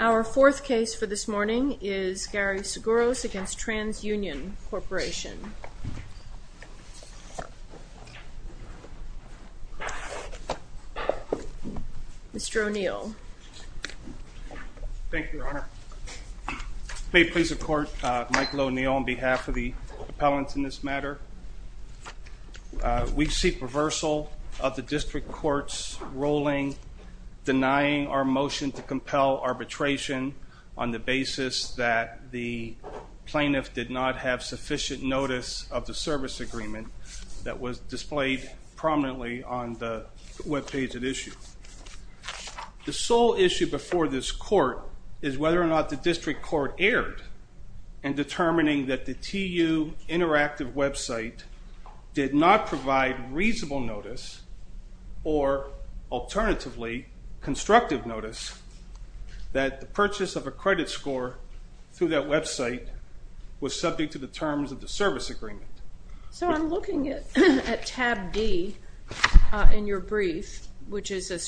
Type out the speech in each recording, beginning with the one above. Our fourth case for this morning is Gary Sgouros v. Trans Union Corporation. Mr. O'Neill. Thank you, Your Honor. May it please the Court, Michael O'Neill on behalf of the District Court's ruling denying our motion to compel arbitration on the basis that the plaintiff did not have sufficient notice of the service agreement that was displayed prominently on the webpage at issue. The sole issue before this Court is whether or not the District Court erred in determining that the TU Interactive website did not provide reasonable notice or alternatively constructive notice that the purchase of a credit score through that website was subject to the terms of the service agreement. So I'm looking at tab D in your brief, which is a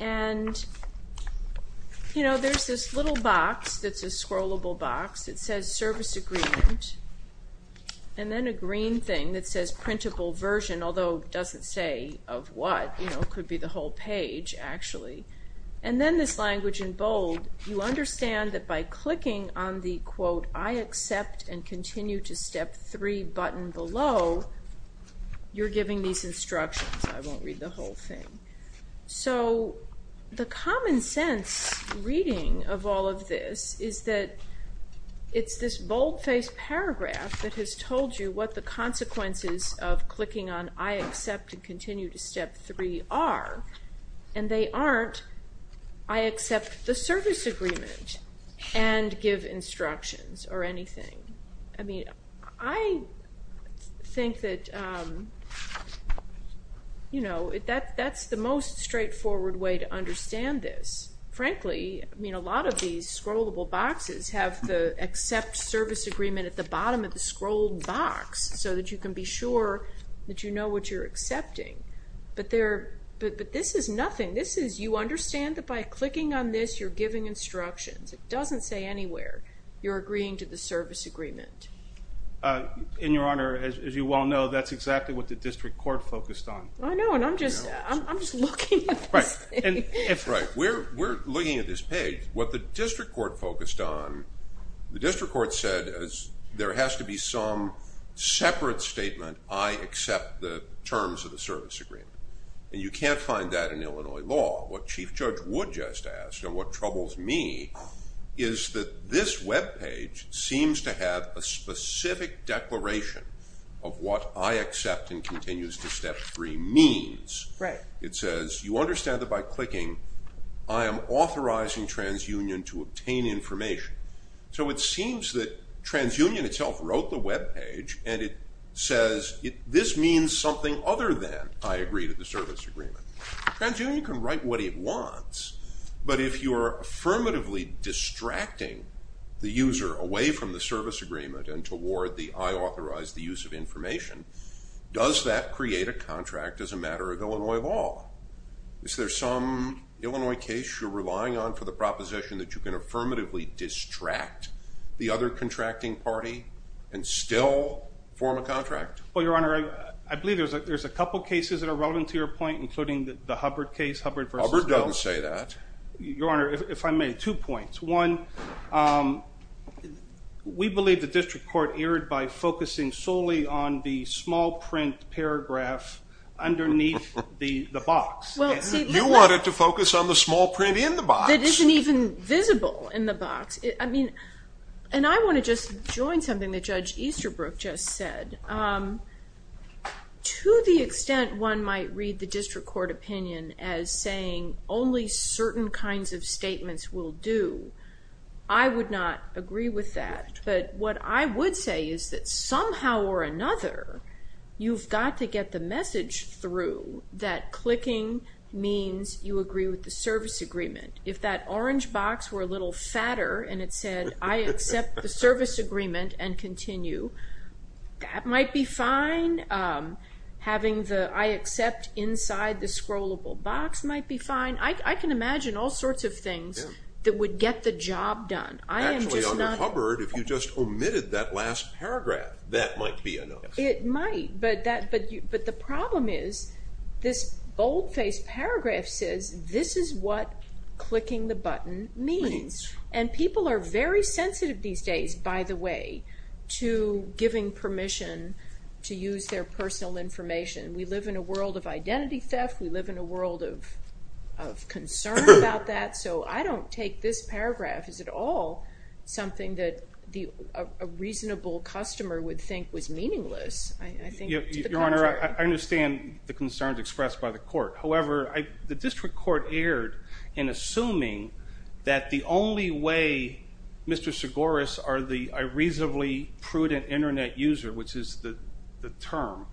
And, you know, there's this little box that's a scrollable box. It says service agreement. And then a green thing that says printable version, although it doesn't say of what. You know, it could be the whole page, actually. And then this language in bold, you understand that by clicking on the quote, I accept and continue to step three button below, you're giving these instructions. I won't read the whole thing. So the common sense reading of all of this is that it's this boldface paragraph that has told you what the consequences of clicking on I accept and continue to step three are. And they aren't I accept the service agreement and give instructions or anything. I mean, I think that, you know, that that's the most straightforward way to understand this. Frankly, I mean, a lot of these scrollable boxes have the accept service agreement at the bottom of the scroll box so that you can be sure that you know what you're accepting. But this is nothing. This is you understand that by clicking on this, you're giving instructions. It doesn't say anywhere. You're agreeing to the service agreement. In your honor, as you well know, that's exactly what the district court focused on. I know. And I'm just, I'm just looking at this thing. Right. We're looking at this page. What the district court focused on, the district court said is there has to be some separate statement, I accept the terms of the service agreement. And you can't find that in Illinois law. What Chief Judge Wood just asked and what troubles me is that this web page seems to have a specific declaration of what I accept and continues to step three means. Right. It says you understand that by clicking, I am authorizing TransUnion to obtain information. So it seems that TransUnion itself wrote the web page and it says this means something other than I agree to the service agreement. TransUnion can write what it wants, but if you're affirmatively distracting the user away from the service agreement and toward the I authorize the use of information, does that create a contract as a matter of Illinois law? Is there some Illinois case you're relying on for the proposition that you can affirmatively distract the other contracting party and still form a contract? Well, your honor, I believe there's a couple cases that are relevant to your point, including the Hubbard case. Hubbard doesn't say that. Your honor, if I may, two points. One, we believe the district court erred by focusing solely on the small print paragraph underneath the box. You want it to focus on the small print in the box. It isn't even visible in the box. And I want to just join something that Judge Easterbrook just said. To the extent one might read the district court opinion as saying only certain kinds of statements will do, I would not agree with that. But what I would say is that somehow or another, you've got to get the message through that clicking means you agree with the service agreement. If that orange box were a little fatter and it said, I accept the service agreement and continue, that might be fine. Having the I accept inside the scrollable box might be fine. I can imagine all sorts of things that would get the job done. Actually under Hubbard, if you just omitted that last paragraph, that might be enough. It might, but the problem is this bold-faced paragraph says this is what clicking the button means. And people are very sensitive these days, by the way, to giving permission to use their personal information. We live in a world of identity theft. We live in a world of concern about that. So I don't take this paragraph as at all something that a reasonable customer would think was meaningless. I think to the contrary. Your Honor, I understand the concerns expressed by the court. However, the district court erred in assuming that the only way Mr. Segaris are a reasonably prudent internet user, which is the term,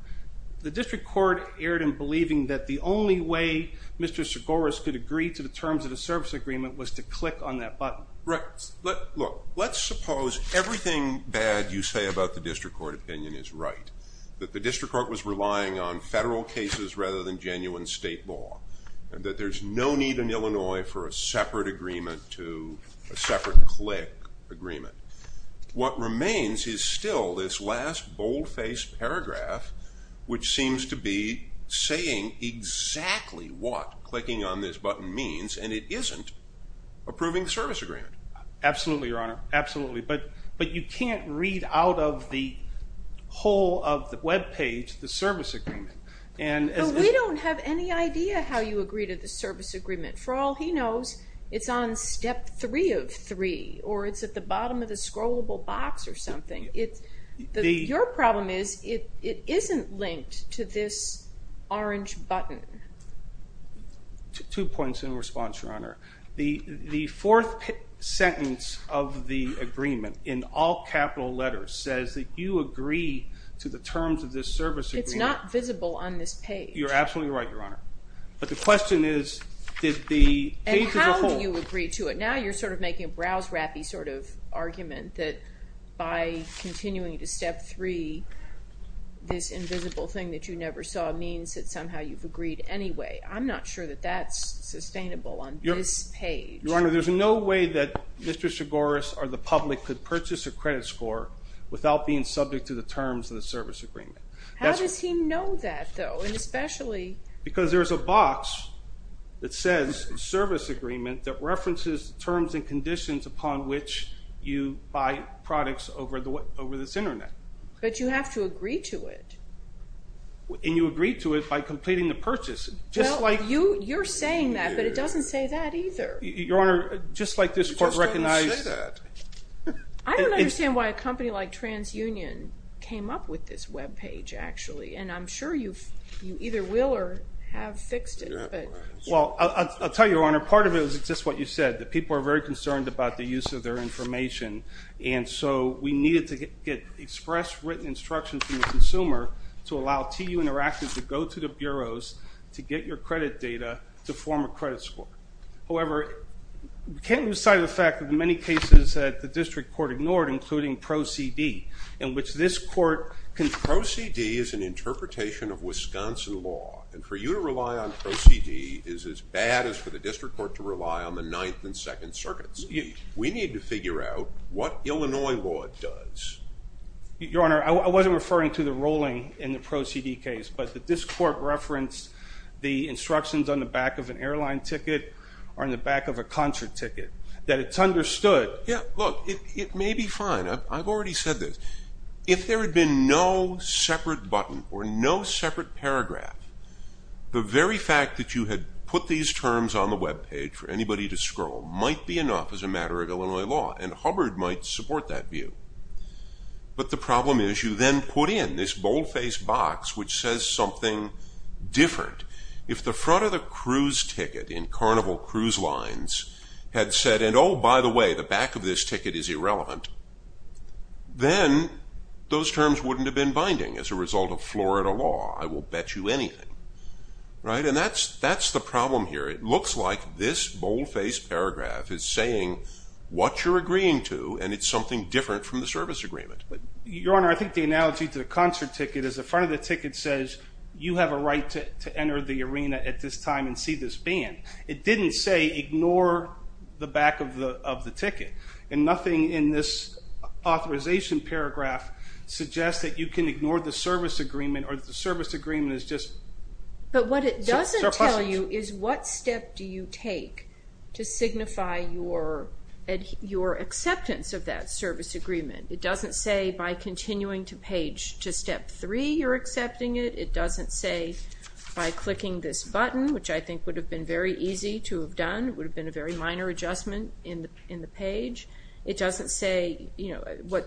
the district court erred in believing that the only way Mr. Segaris could agree to the terms of the service agreement was to click on that button. Right. Look, let's suppose everything bad you say about the district court opinion is right. That the district court was relying on federal cases rather than genuine state law. That there's no need in Illinois for a separate agreement to a separate click agreement. What remains is still this last bold-faced paragraph, which seems to be saying exactly what clicking on this button means, and it isn't approving the service agreement. Absolutely, Your Honor. Absolutely. But you can't read out of the whole of the webpage the service agreement. But we don't have any idea how you agree to the service agreement. For all he knows, it's on step three of three, or it's at the bottom of the scrollable box or something. Your problem is it isn't linked to this orange button. Two points in response, Your Honor. The fourth sentence of the agreement, in all capital letters, says that you agree to the terms of this service agreement. It's not visible on this page. You're absolutely right, Your Honor. But the question is, did the page as a whole... I'm not sure that that's sustainable on this page. Your Honor, there's no way that Mr. Chigoris or the public could purchase a credit score without being subject to the terms of the service agreement. How does he know that, though? And especially... Because there's a box that says service agreement that references terms and conditions upon which you buy products over this internet. But you have to agree to it. And you agree to it by completing the purchase. Well, you're saying that, but it doesn't say that either. Your Honor, just like this court recognized... It just doesn't say that. I don't understand why a company like TransUnion came up with this web page, actually. And I'm sure you either will or have fixed it. Well, I'll tell you, Your Honor, part of it is just what you said, that people are very concerned about the use of their information. And so we needed to get express written instructions from the consumer to allow TU Interactive to go to the bureaus to get your credit data to form a credit score. However, we can't lose sight of the fact that in many cases that the district court ignored, including Pro CD, in which this court... Pro CD is an interpretation of Wisconsin law. And for you to rely on Pro CD is as bad as for the district court to rely on the Ninth and Second Circuits. We need to figure out what Illinois law does. Your Honor, I wasn't referring to the ruling in the Pro CD case. But the district court referenced the instructions on the back of an airline ticket or on the back of a concert ticket, that it's understood... Yeah, look, it may be fine. I've already said this. If there had been no separate button or no separate paragraph, the very fact that you had put these terms on the webpage for anybody to scroll might be enough as a matter of Illinois law. And Hubbard might support that view. But the problem is you then put in this bold-faced box which says something different. If the front of the cruise ticket in Carnival Cruise Lines had said, and oh, by the way, the back of this ticket is irrelevant, then those terms wouldn't have been binding as a result of Florida law. I will bet you anything. Right? And that's the problem here. It looks like this bold-faced paragraph is saying what you're agreeing to, and it's something different from the service agreement. Your Honor, I think the analogy to the concert ticket is the front of the ticket says you have a right to enter the arena at this time and see this band. It didn't say ignore the back of the ticket. And nothing in this authorization paragraph suggests that you can ignore the service agreement or the service agreement is just surplusage. But what it doesn't tell you is what step do you take to signify your acceptance of that service agreement. It doesn't say by continuing to page, to step three, you're accepting it. It doesn't say by clicking this button, which I think would have been very easy to have done. It would have been a very minor adjustment in the page. It doesn't say, you know,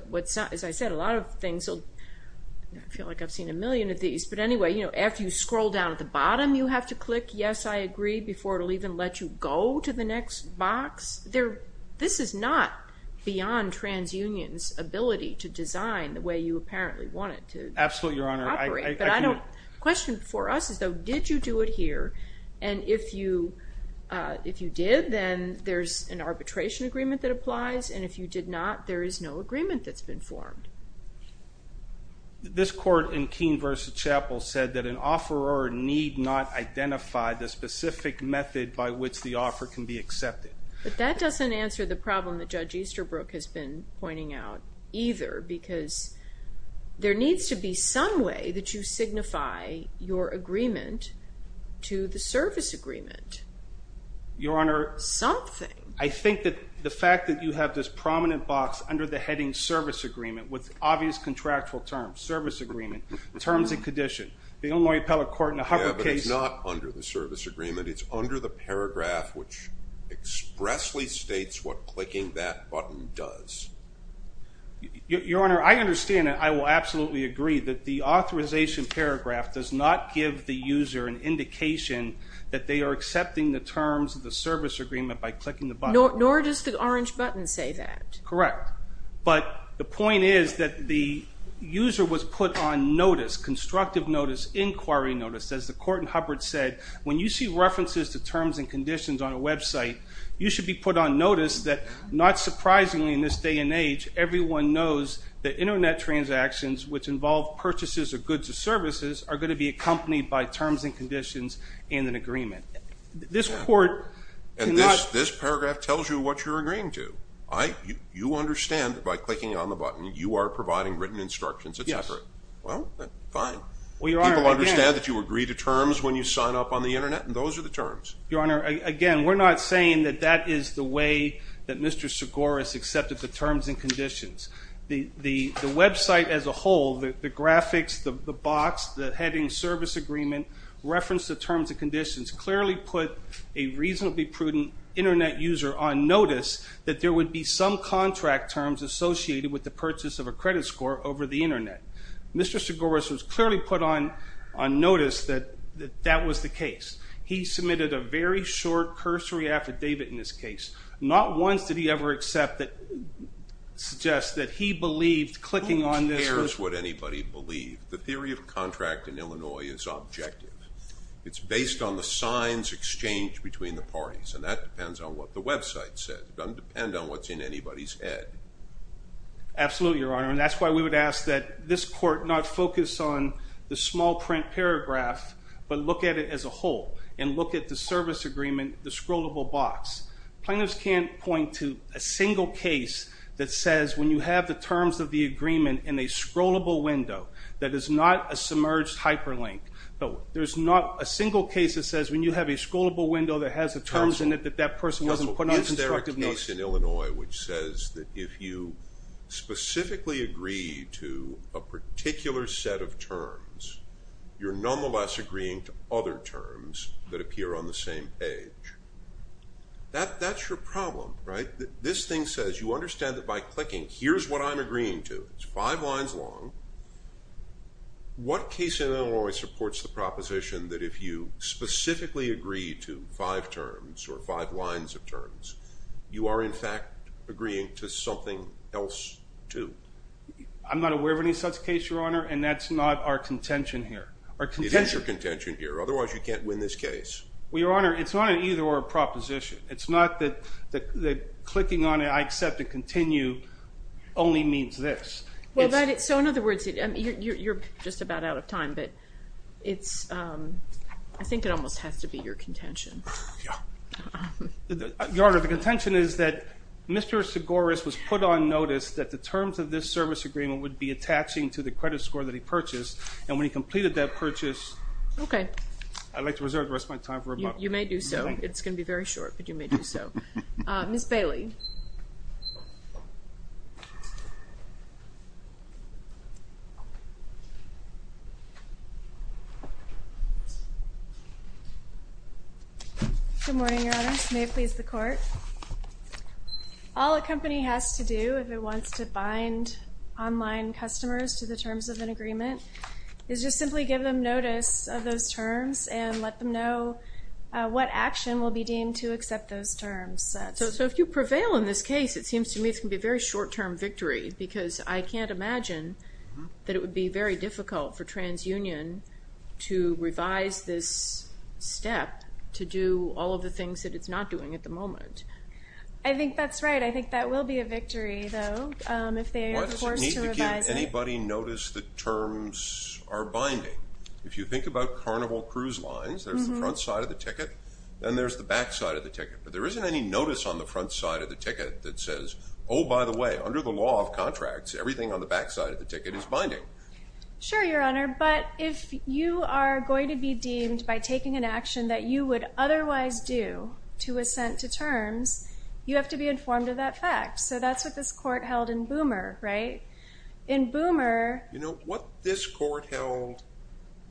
as I said, a lot of things, I feel like I've seen a million of these. But anyway, you know, after you scroll down at the bottom, you have to click yes, I agree, before it will even let you go to the next box. This is not beyond TransUnion's ability to design the way you apparently want it to operate. Absolutely, Your Honor. The question for us is though, did you do it here? And if you did, then there's an arbitration agreement that applies. And if you did not, there is no agreement that's been formed. This court in Keene v. Chappell said that an offeror need not identify the specific method by which the offer can be accepted. But that doesn't answer the problem that Judge Easterbrook has been pointing out either, because there needs to be some way that you signify your agreement to the service agreement. Your Honor. Something. I think that the fact that you have this prominent box under the heading service agreement with obvious contractual terms, service agreement, terms and condition. The Illinois Appellate Court in the Hubbard case. But it's not under the service agreement. It's under the paragraph which expressly states what clicking that button does. Your Honor, I understand and I will absolutely agree that the authorization paragraph does not give the user an indication that they are accepting the terms of the service agreement by clicking the button. Nor does the orange button say that. Correct. But the point is that the user was put on notice, constructive notice, inquiry notice, as the court in Hubbard said. When you see references to terms and conditions on a website, you should be put on notice that not surprisingly in this day and age, everyone knows that Internet transactions which involve purchases of goods or services are going to be accompanied by terms and conditions and an agreement. This court cannot. And this paragraph tells you what you're agreeing to. You understand that by clicking on the button, you are providing written instructions, etc. Yes. Well, fine. People understand that you agree to terms when you sign up on the Internet and those are the terms. Your Honor, again, we're not saying that that is the way that Mr. Segoras accepted the terms and conditions. The website as a whole, the graphics, the box, the heading service agreement, reference to terms and conditions, clearly put a reasonably prudent Internet user on notice that there would be some contract terms associated with the purchase of a credit score over the Internet. Mr. Segoras was clearly put on notice that that was the case. He submitted a very short cursory affidavit in this case. Not once did he ever suggest that he believed clicking on this was... Who cares what anybody believed? The theory of contract in Illinois is objective. It's based on the signs exchanged between the parties and that depends on what the website said. It doesn't depend on what's in anybody's head. Absolutely, Your Honor, and that's why we would ask that this court not focus on the small print paragraph but look at it as a whole and look at the service agreement, the scrollable box. Plaintiffs can't point to a single case that says when you have the terms of the agreement in a scrollable window that is not a submerged hyperlink. There's not a single case that says when you have a scrollable window that has the terms in it that that person wasn't put on constructive notice. Counsel, is there a case in Illinois which says that if you specifically agree to a particular set of terms, you're nonetheless agreeing to other terms that appear on the same page? That's your problem, right? This thing says you understand that by clicking, here's what I'm agreeing to. It's five lines long. What case in Illinois supports the proposition that if you specifically agree to five terms or five lines of terms, you are in fact agreeing to something else too? I'm not aware of any such case, Your Honor, and that's not our contention here. It is your contention here. Otherwise, you can't win this case. Well, Your Honor, it's not an either-or proposition. It's not that clicking on it, I accept it, continue only means this. So in other words, you're just about out of time, but I think it almost has to be your contention. Your Honor, the contention is that Mr. Segaris was put on notice that the terms of this service agreement would be attaching to the credit score that he purchased, and when he completed that purchase, I'd like to reserve the rest of my time for rebuttal. You may do so. It's going to be very short, but you may do so. Ms. Bailey. Good morning, Your Honor. May it please the Court. All a company has to do if it wants to bind online customers to the terms of an agreement is just simply give them notice of those terms and let them know what action will be deemed to accept those terms. So if you prevail in this case, it seems to me it's going to be a very short-term victory because I can't imagine that it would be very difficult for TransUnion to revise this step to do all of the things that it's not doing at the moment. I think that's right. I think that will be a victory, though, if they are forced to revise it. Why does it need to give anybody notice that terms are binding? If you think about Carnival Cruise Lines, there's the front side of the ticket, then there's the back side of the ticket. But there isn't any notice on the front side of the ticket that says, oh, by the way, under the law of contracts, everything on the back side of the ticket is binding. Sure, Your Honor, but if you are going to be deemed by taking an action that you would otherwise do to assent to terms, you have to be informed of that fact. So that's what this Court held in Boomer, right? You know, what this Court held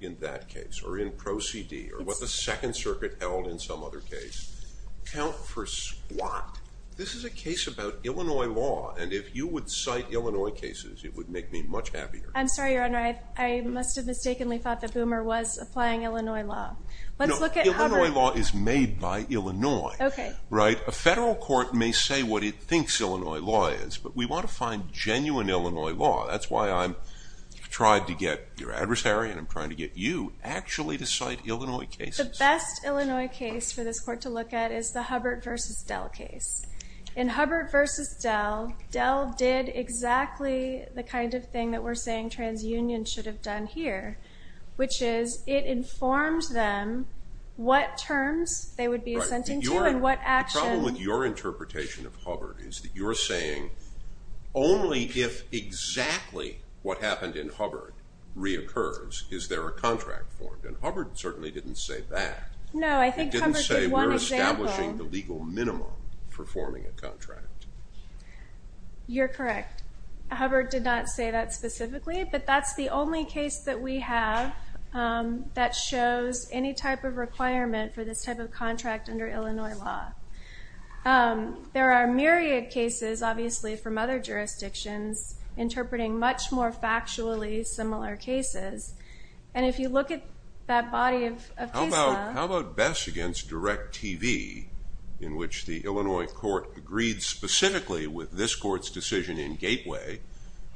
in that case, or in Proceedee, or what the Second Circuit held in some other case, count for squat. This is a case about Illinois law, and if you would cite Illinois cases, it would make me much happier. I'm sorry, Your Honor, I must have mistakenly thought that Boomer was applying Illinois law. No, Illinois law is made by Illinois, right? A federal court may say what it thinks Illinois law is, but we want to find genuine Illinois law. That's why I'm trying to get your adversary and I'm trying to get you actually to cite Illinois cases. The best Illinois case for this Court to look at is the Hubbard v. Dell case. In Hubbard v. Dell, Dell did exactly the kind of thing that we're saying TransUnion should have done here, which is it informed them what terms they would be assenting to and what action... The problem with your interpretation of Hubbard is that you're saying only if exactly what happened in Hubbard reoccurs is there a contract formed, and Hubbard certainly didn't say that. No, I think Hubbard did one example... It didn't say we're establishing the legal minimum for forming a contract. You're correct. Hubbard did not say that specifically, but that's the only case that we have that shows any type of requirement for this type of contract under Illinois law. There are myriad cases, obviously, from other jurisdictions interpreting much more factually similar cases, and if you look at that body of case law... How about Bess v. Direct TV, in which the Illinois court agreed specifically with this court's decision in Gateway,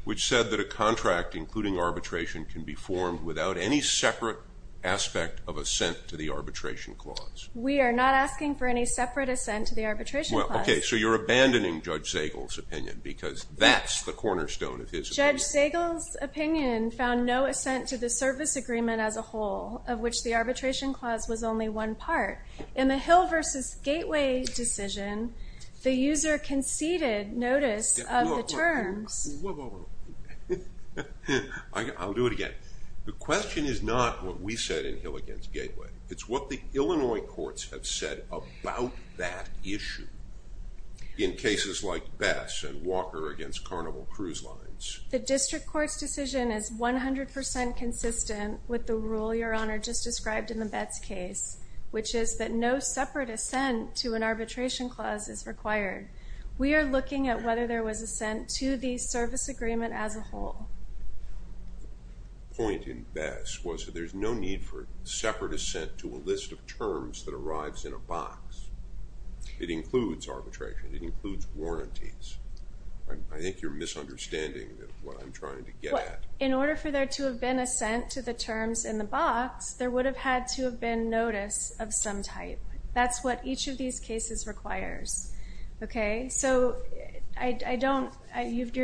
which said that a contract, including arbitration, can be formed without any separate aspect of assent to the arbitration clause? We are not asking for any separate assent to the arbitration clause. Okay, so you're abandoning Judge Zagel's opinion, because that's the cornerstone of his opinion. Judge Zagel's opinion found no assent to the service agreement as a whole, of which the arbitration clause was only one part. In the Hill v. Gateway decision, the user conceded notice of the terms... Whoa, whoa, whoa. I'll do it again. The question is not what we said in Hill v. Gateway. It's what the Illinois courts have said about that issue in cases like Bess and Walker v. Carnival Cruise Lines. The district court's decision is 100% consistent with the rule Your Honor just described in the Bess case, which is that no separate assent to an arbitration clause is required. We are looking at whether there was assent to the service agreement as a whole. The point in Bess was that there's no need for separate assent to a list of terms that arrives in a box. It includes arbitration. It includes warranties. I think you're misunderstanding what I'm trying to get at. In order for there to have been assent to the terms in the box, there would have had to have been notice of some type. That's what each of these cases requires. You're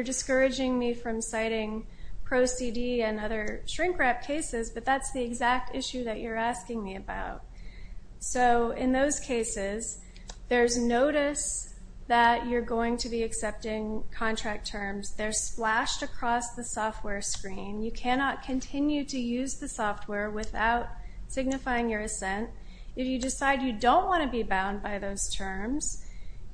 discouraging me from citing Pro CD and other shrink-wrap cases, but that's the exact issue that you're asking me about. In those cases, there's notice that you're going to be accepting contract terms. They're splashed across the software screen. You cannot continue to use the software without signifying your assent. If you decide you don't want to be bound by those terms,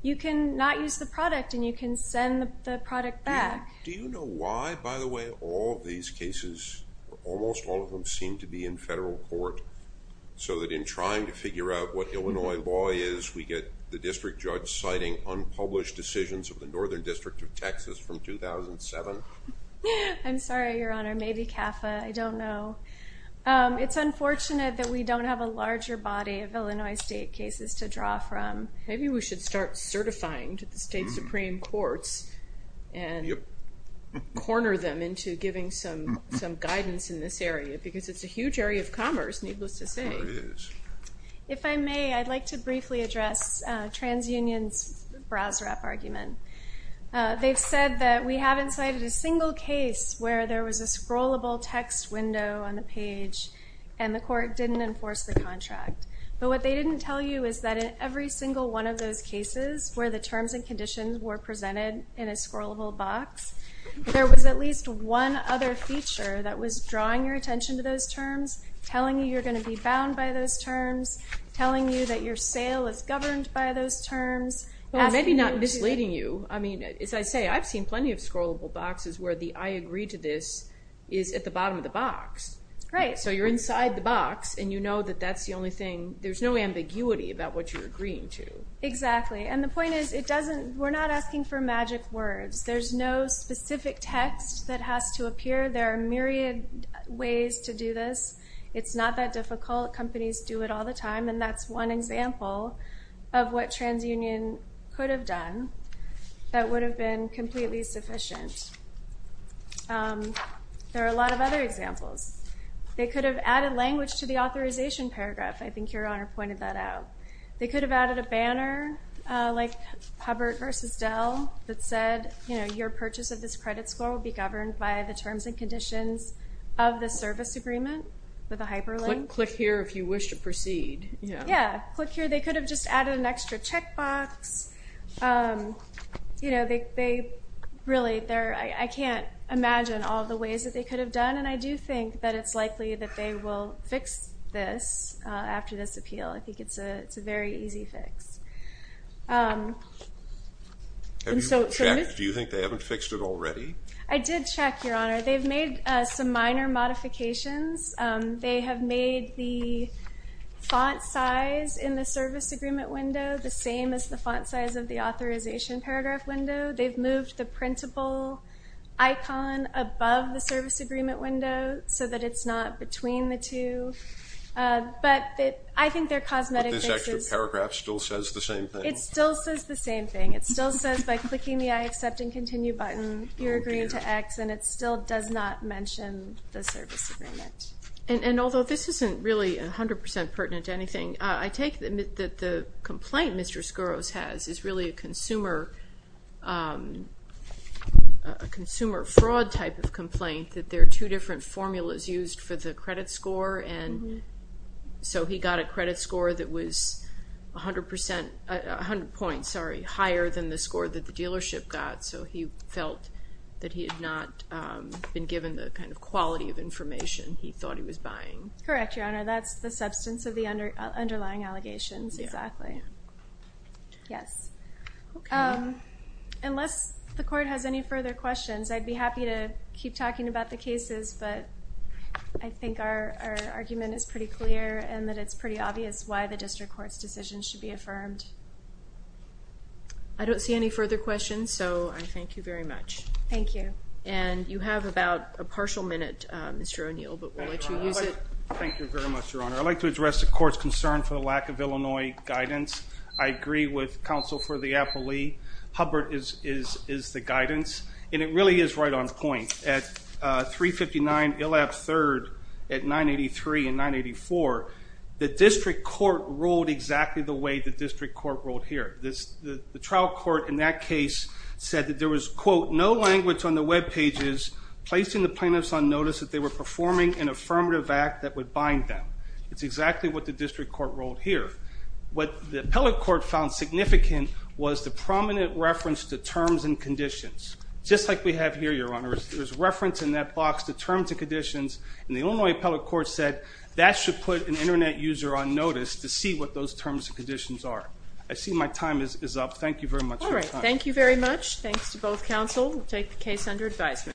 you can not use the product, and you can send the product back. Do you know why, by the way, all of these cases, almost all of them seem to be in federal court, so that in trying to figure out what Illinois law is, we get the district judge citing unpublished decisions of the Northern District of Texas from 2007? I'm sorry, Your Honor. Maybe CAFA. I don't know. It's unfortunate that we don't have a larger body of Illinois state cases to draw from. Maybe we should start certifying to the state Supreme Courts and corner them into giving some guidance in this area because it's a huge area of commerce, needless to say. If I may, I'd like to briefly address TransUnion's Braswrap argument. They've said that we haven't cited a single case where there was a scrollable text window on the page and the court didn't enforce the contract. But what they didn't tell you is that in every single one of those cases where the terms and conditions were presented in a scrollable box, there was at least one other feature that was drawing your attention to those terms, telling you you're going to be bound by those terms, telling you that your sale is governed by those terms. Maybe not misleading you. As I say, I've seen plenty of scrollable boxes where the I agree to this is at the bottom of the box. Right. So you're inside the box and you know that that's the only thing. There's no ambiguity about what you're agreeing to. Exactly. And the point is we're not asking for magic words. There's no specific text that has to appear. There are myriad ways to do this. It's not that difficult. Companies do it all the time, and that's one example of what TransUnion could have done that would have been completely sufficient. There are a lot of other examples. They could have added language to the authorization paragraph. I think Your Honor pointed that out. They could have added a banner like Hubbert versus Dell that said your purchase of this credit score will be governed by the terms and conditions of the service agreement with a hyperlink. Click here if you wish to proceed. Yeah, click here. They could have just added an extra checkbox. I can't imagine all the ways that they could have done, and I do think that it's likely that they will fix this after this appeal. I think it's a very easy fix. Have you checked? Do you think they haven't fixed it already? I did check, Your Honor. They've made some minor modifications. They have made the font size in the service agreement window the same as the font size of the authorization paragraph window. They've moved the printable icon above the service agreement window so that it's not between the two. But I think their cosmetic fix is... But this extra paragraph still says the same thing. It still says the same thing. It still says by clicking the I accept and continue button you're agreeing to X, and it still does not mention the service agreement. And although this isn't really 100% pertinent to anything, I take that the complaint Mr. Skouros has is really a consumer fraud type of complaint, that there are two different formulas used for the credit score, and so he got a credit score that was 100 points higher than the score that the dealership got, so he felt that he had not been given the kind of quality of information he thought he was buying. Correct, Your Honor. That's the substance of the underlying allegations. Yeah. Exactly. Yes. Okay. Unless the court has any further questions, I'd be happy to keep talking about the cases, but I think our argument is pretty clear and that it's pretty obvious why the district court's decision should be affirmed. I don't see any further questions, so I thank you very much. Thank you. And you have about a partial minute, Mr. O'Neill, but we'll let you use it. Thank you very much, Your Honor. I'd like to address the court's concern for the lack of Illinois guidance. I agree with counsel for the appellee. Hubbard is the guidance, and it really is right on point. At 359 Illab 3rd at 983 and 984, the district court ruled exactly the way the district court ruled here. The trial court in that case said that there was, quote, no language on the web pages placing the plaintiffs on notice that they were performing an affirmative act that would bind them. It's exactly what the district court ruled here. What the appellate court found significant was the prominent reference to terms and conditions. Just like we have here, Your Honor, there's reference in that box to terms and conditions, and the Illinois appellate court said that should put an Internet user on notice to see what those terms and conditions are. I see my time is up. Thank you very much for your time. All right. Thank you very much. Thanks to both counsel. We'll take the case under advisement.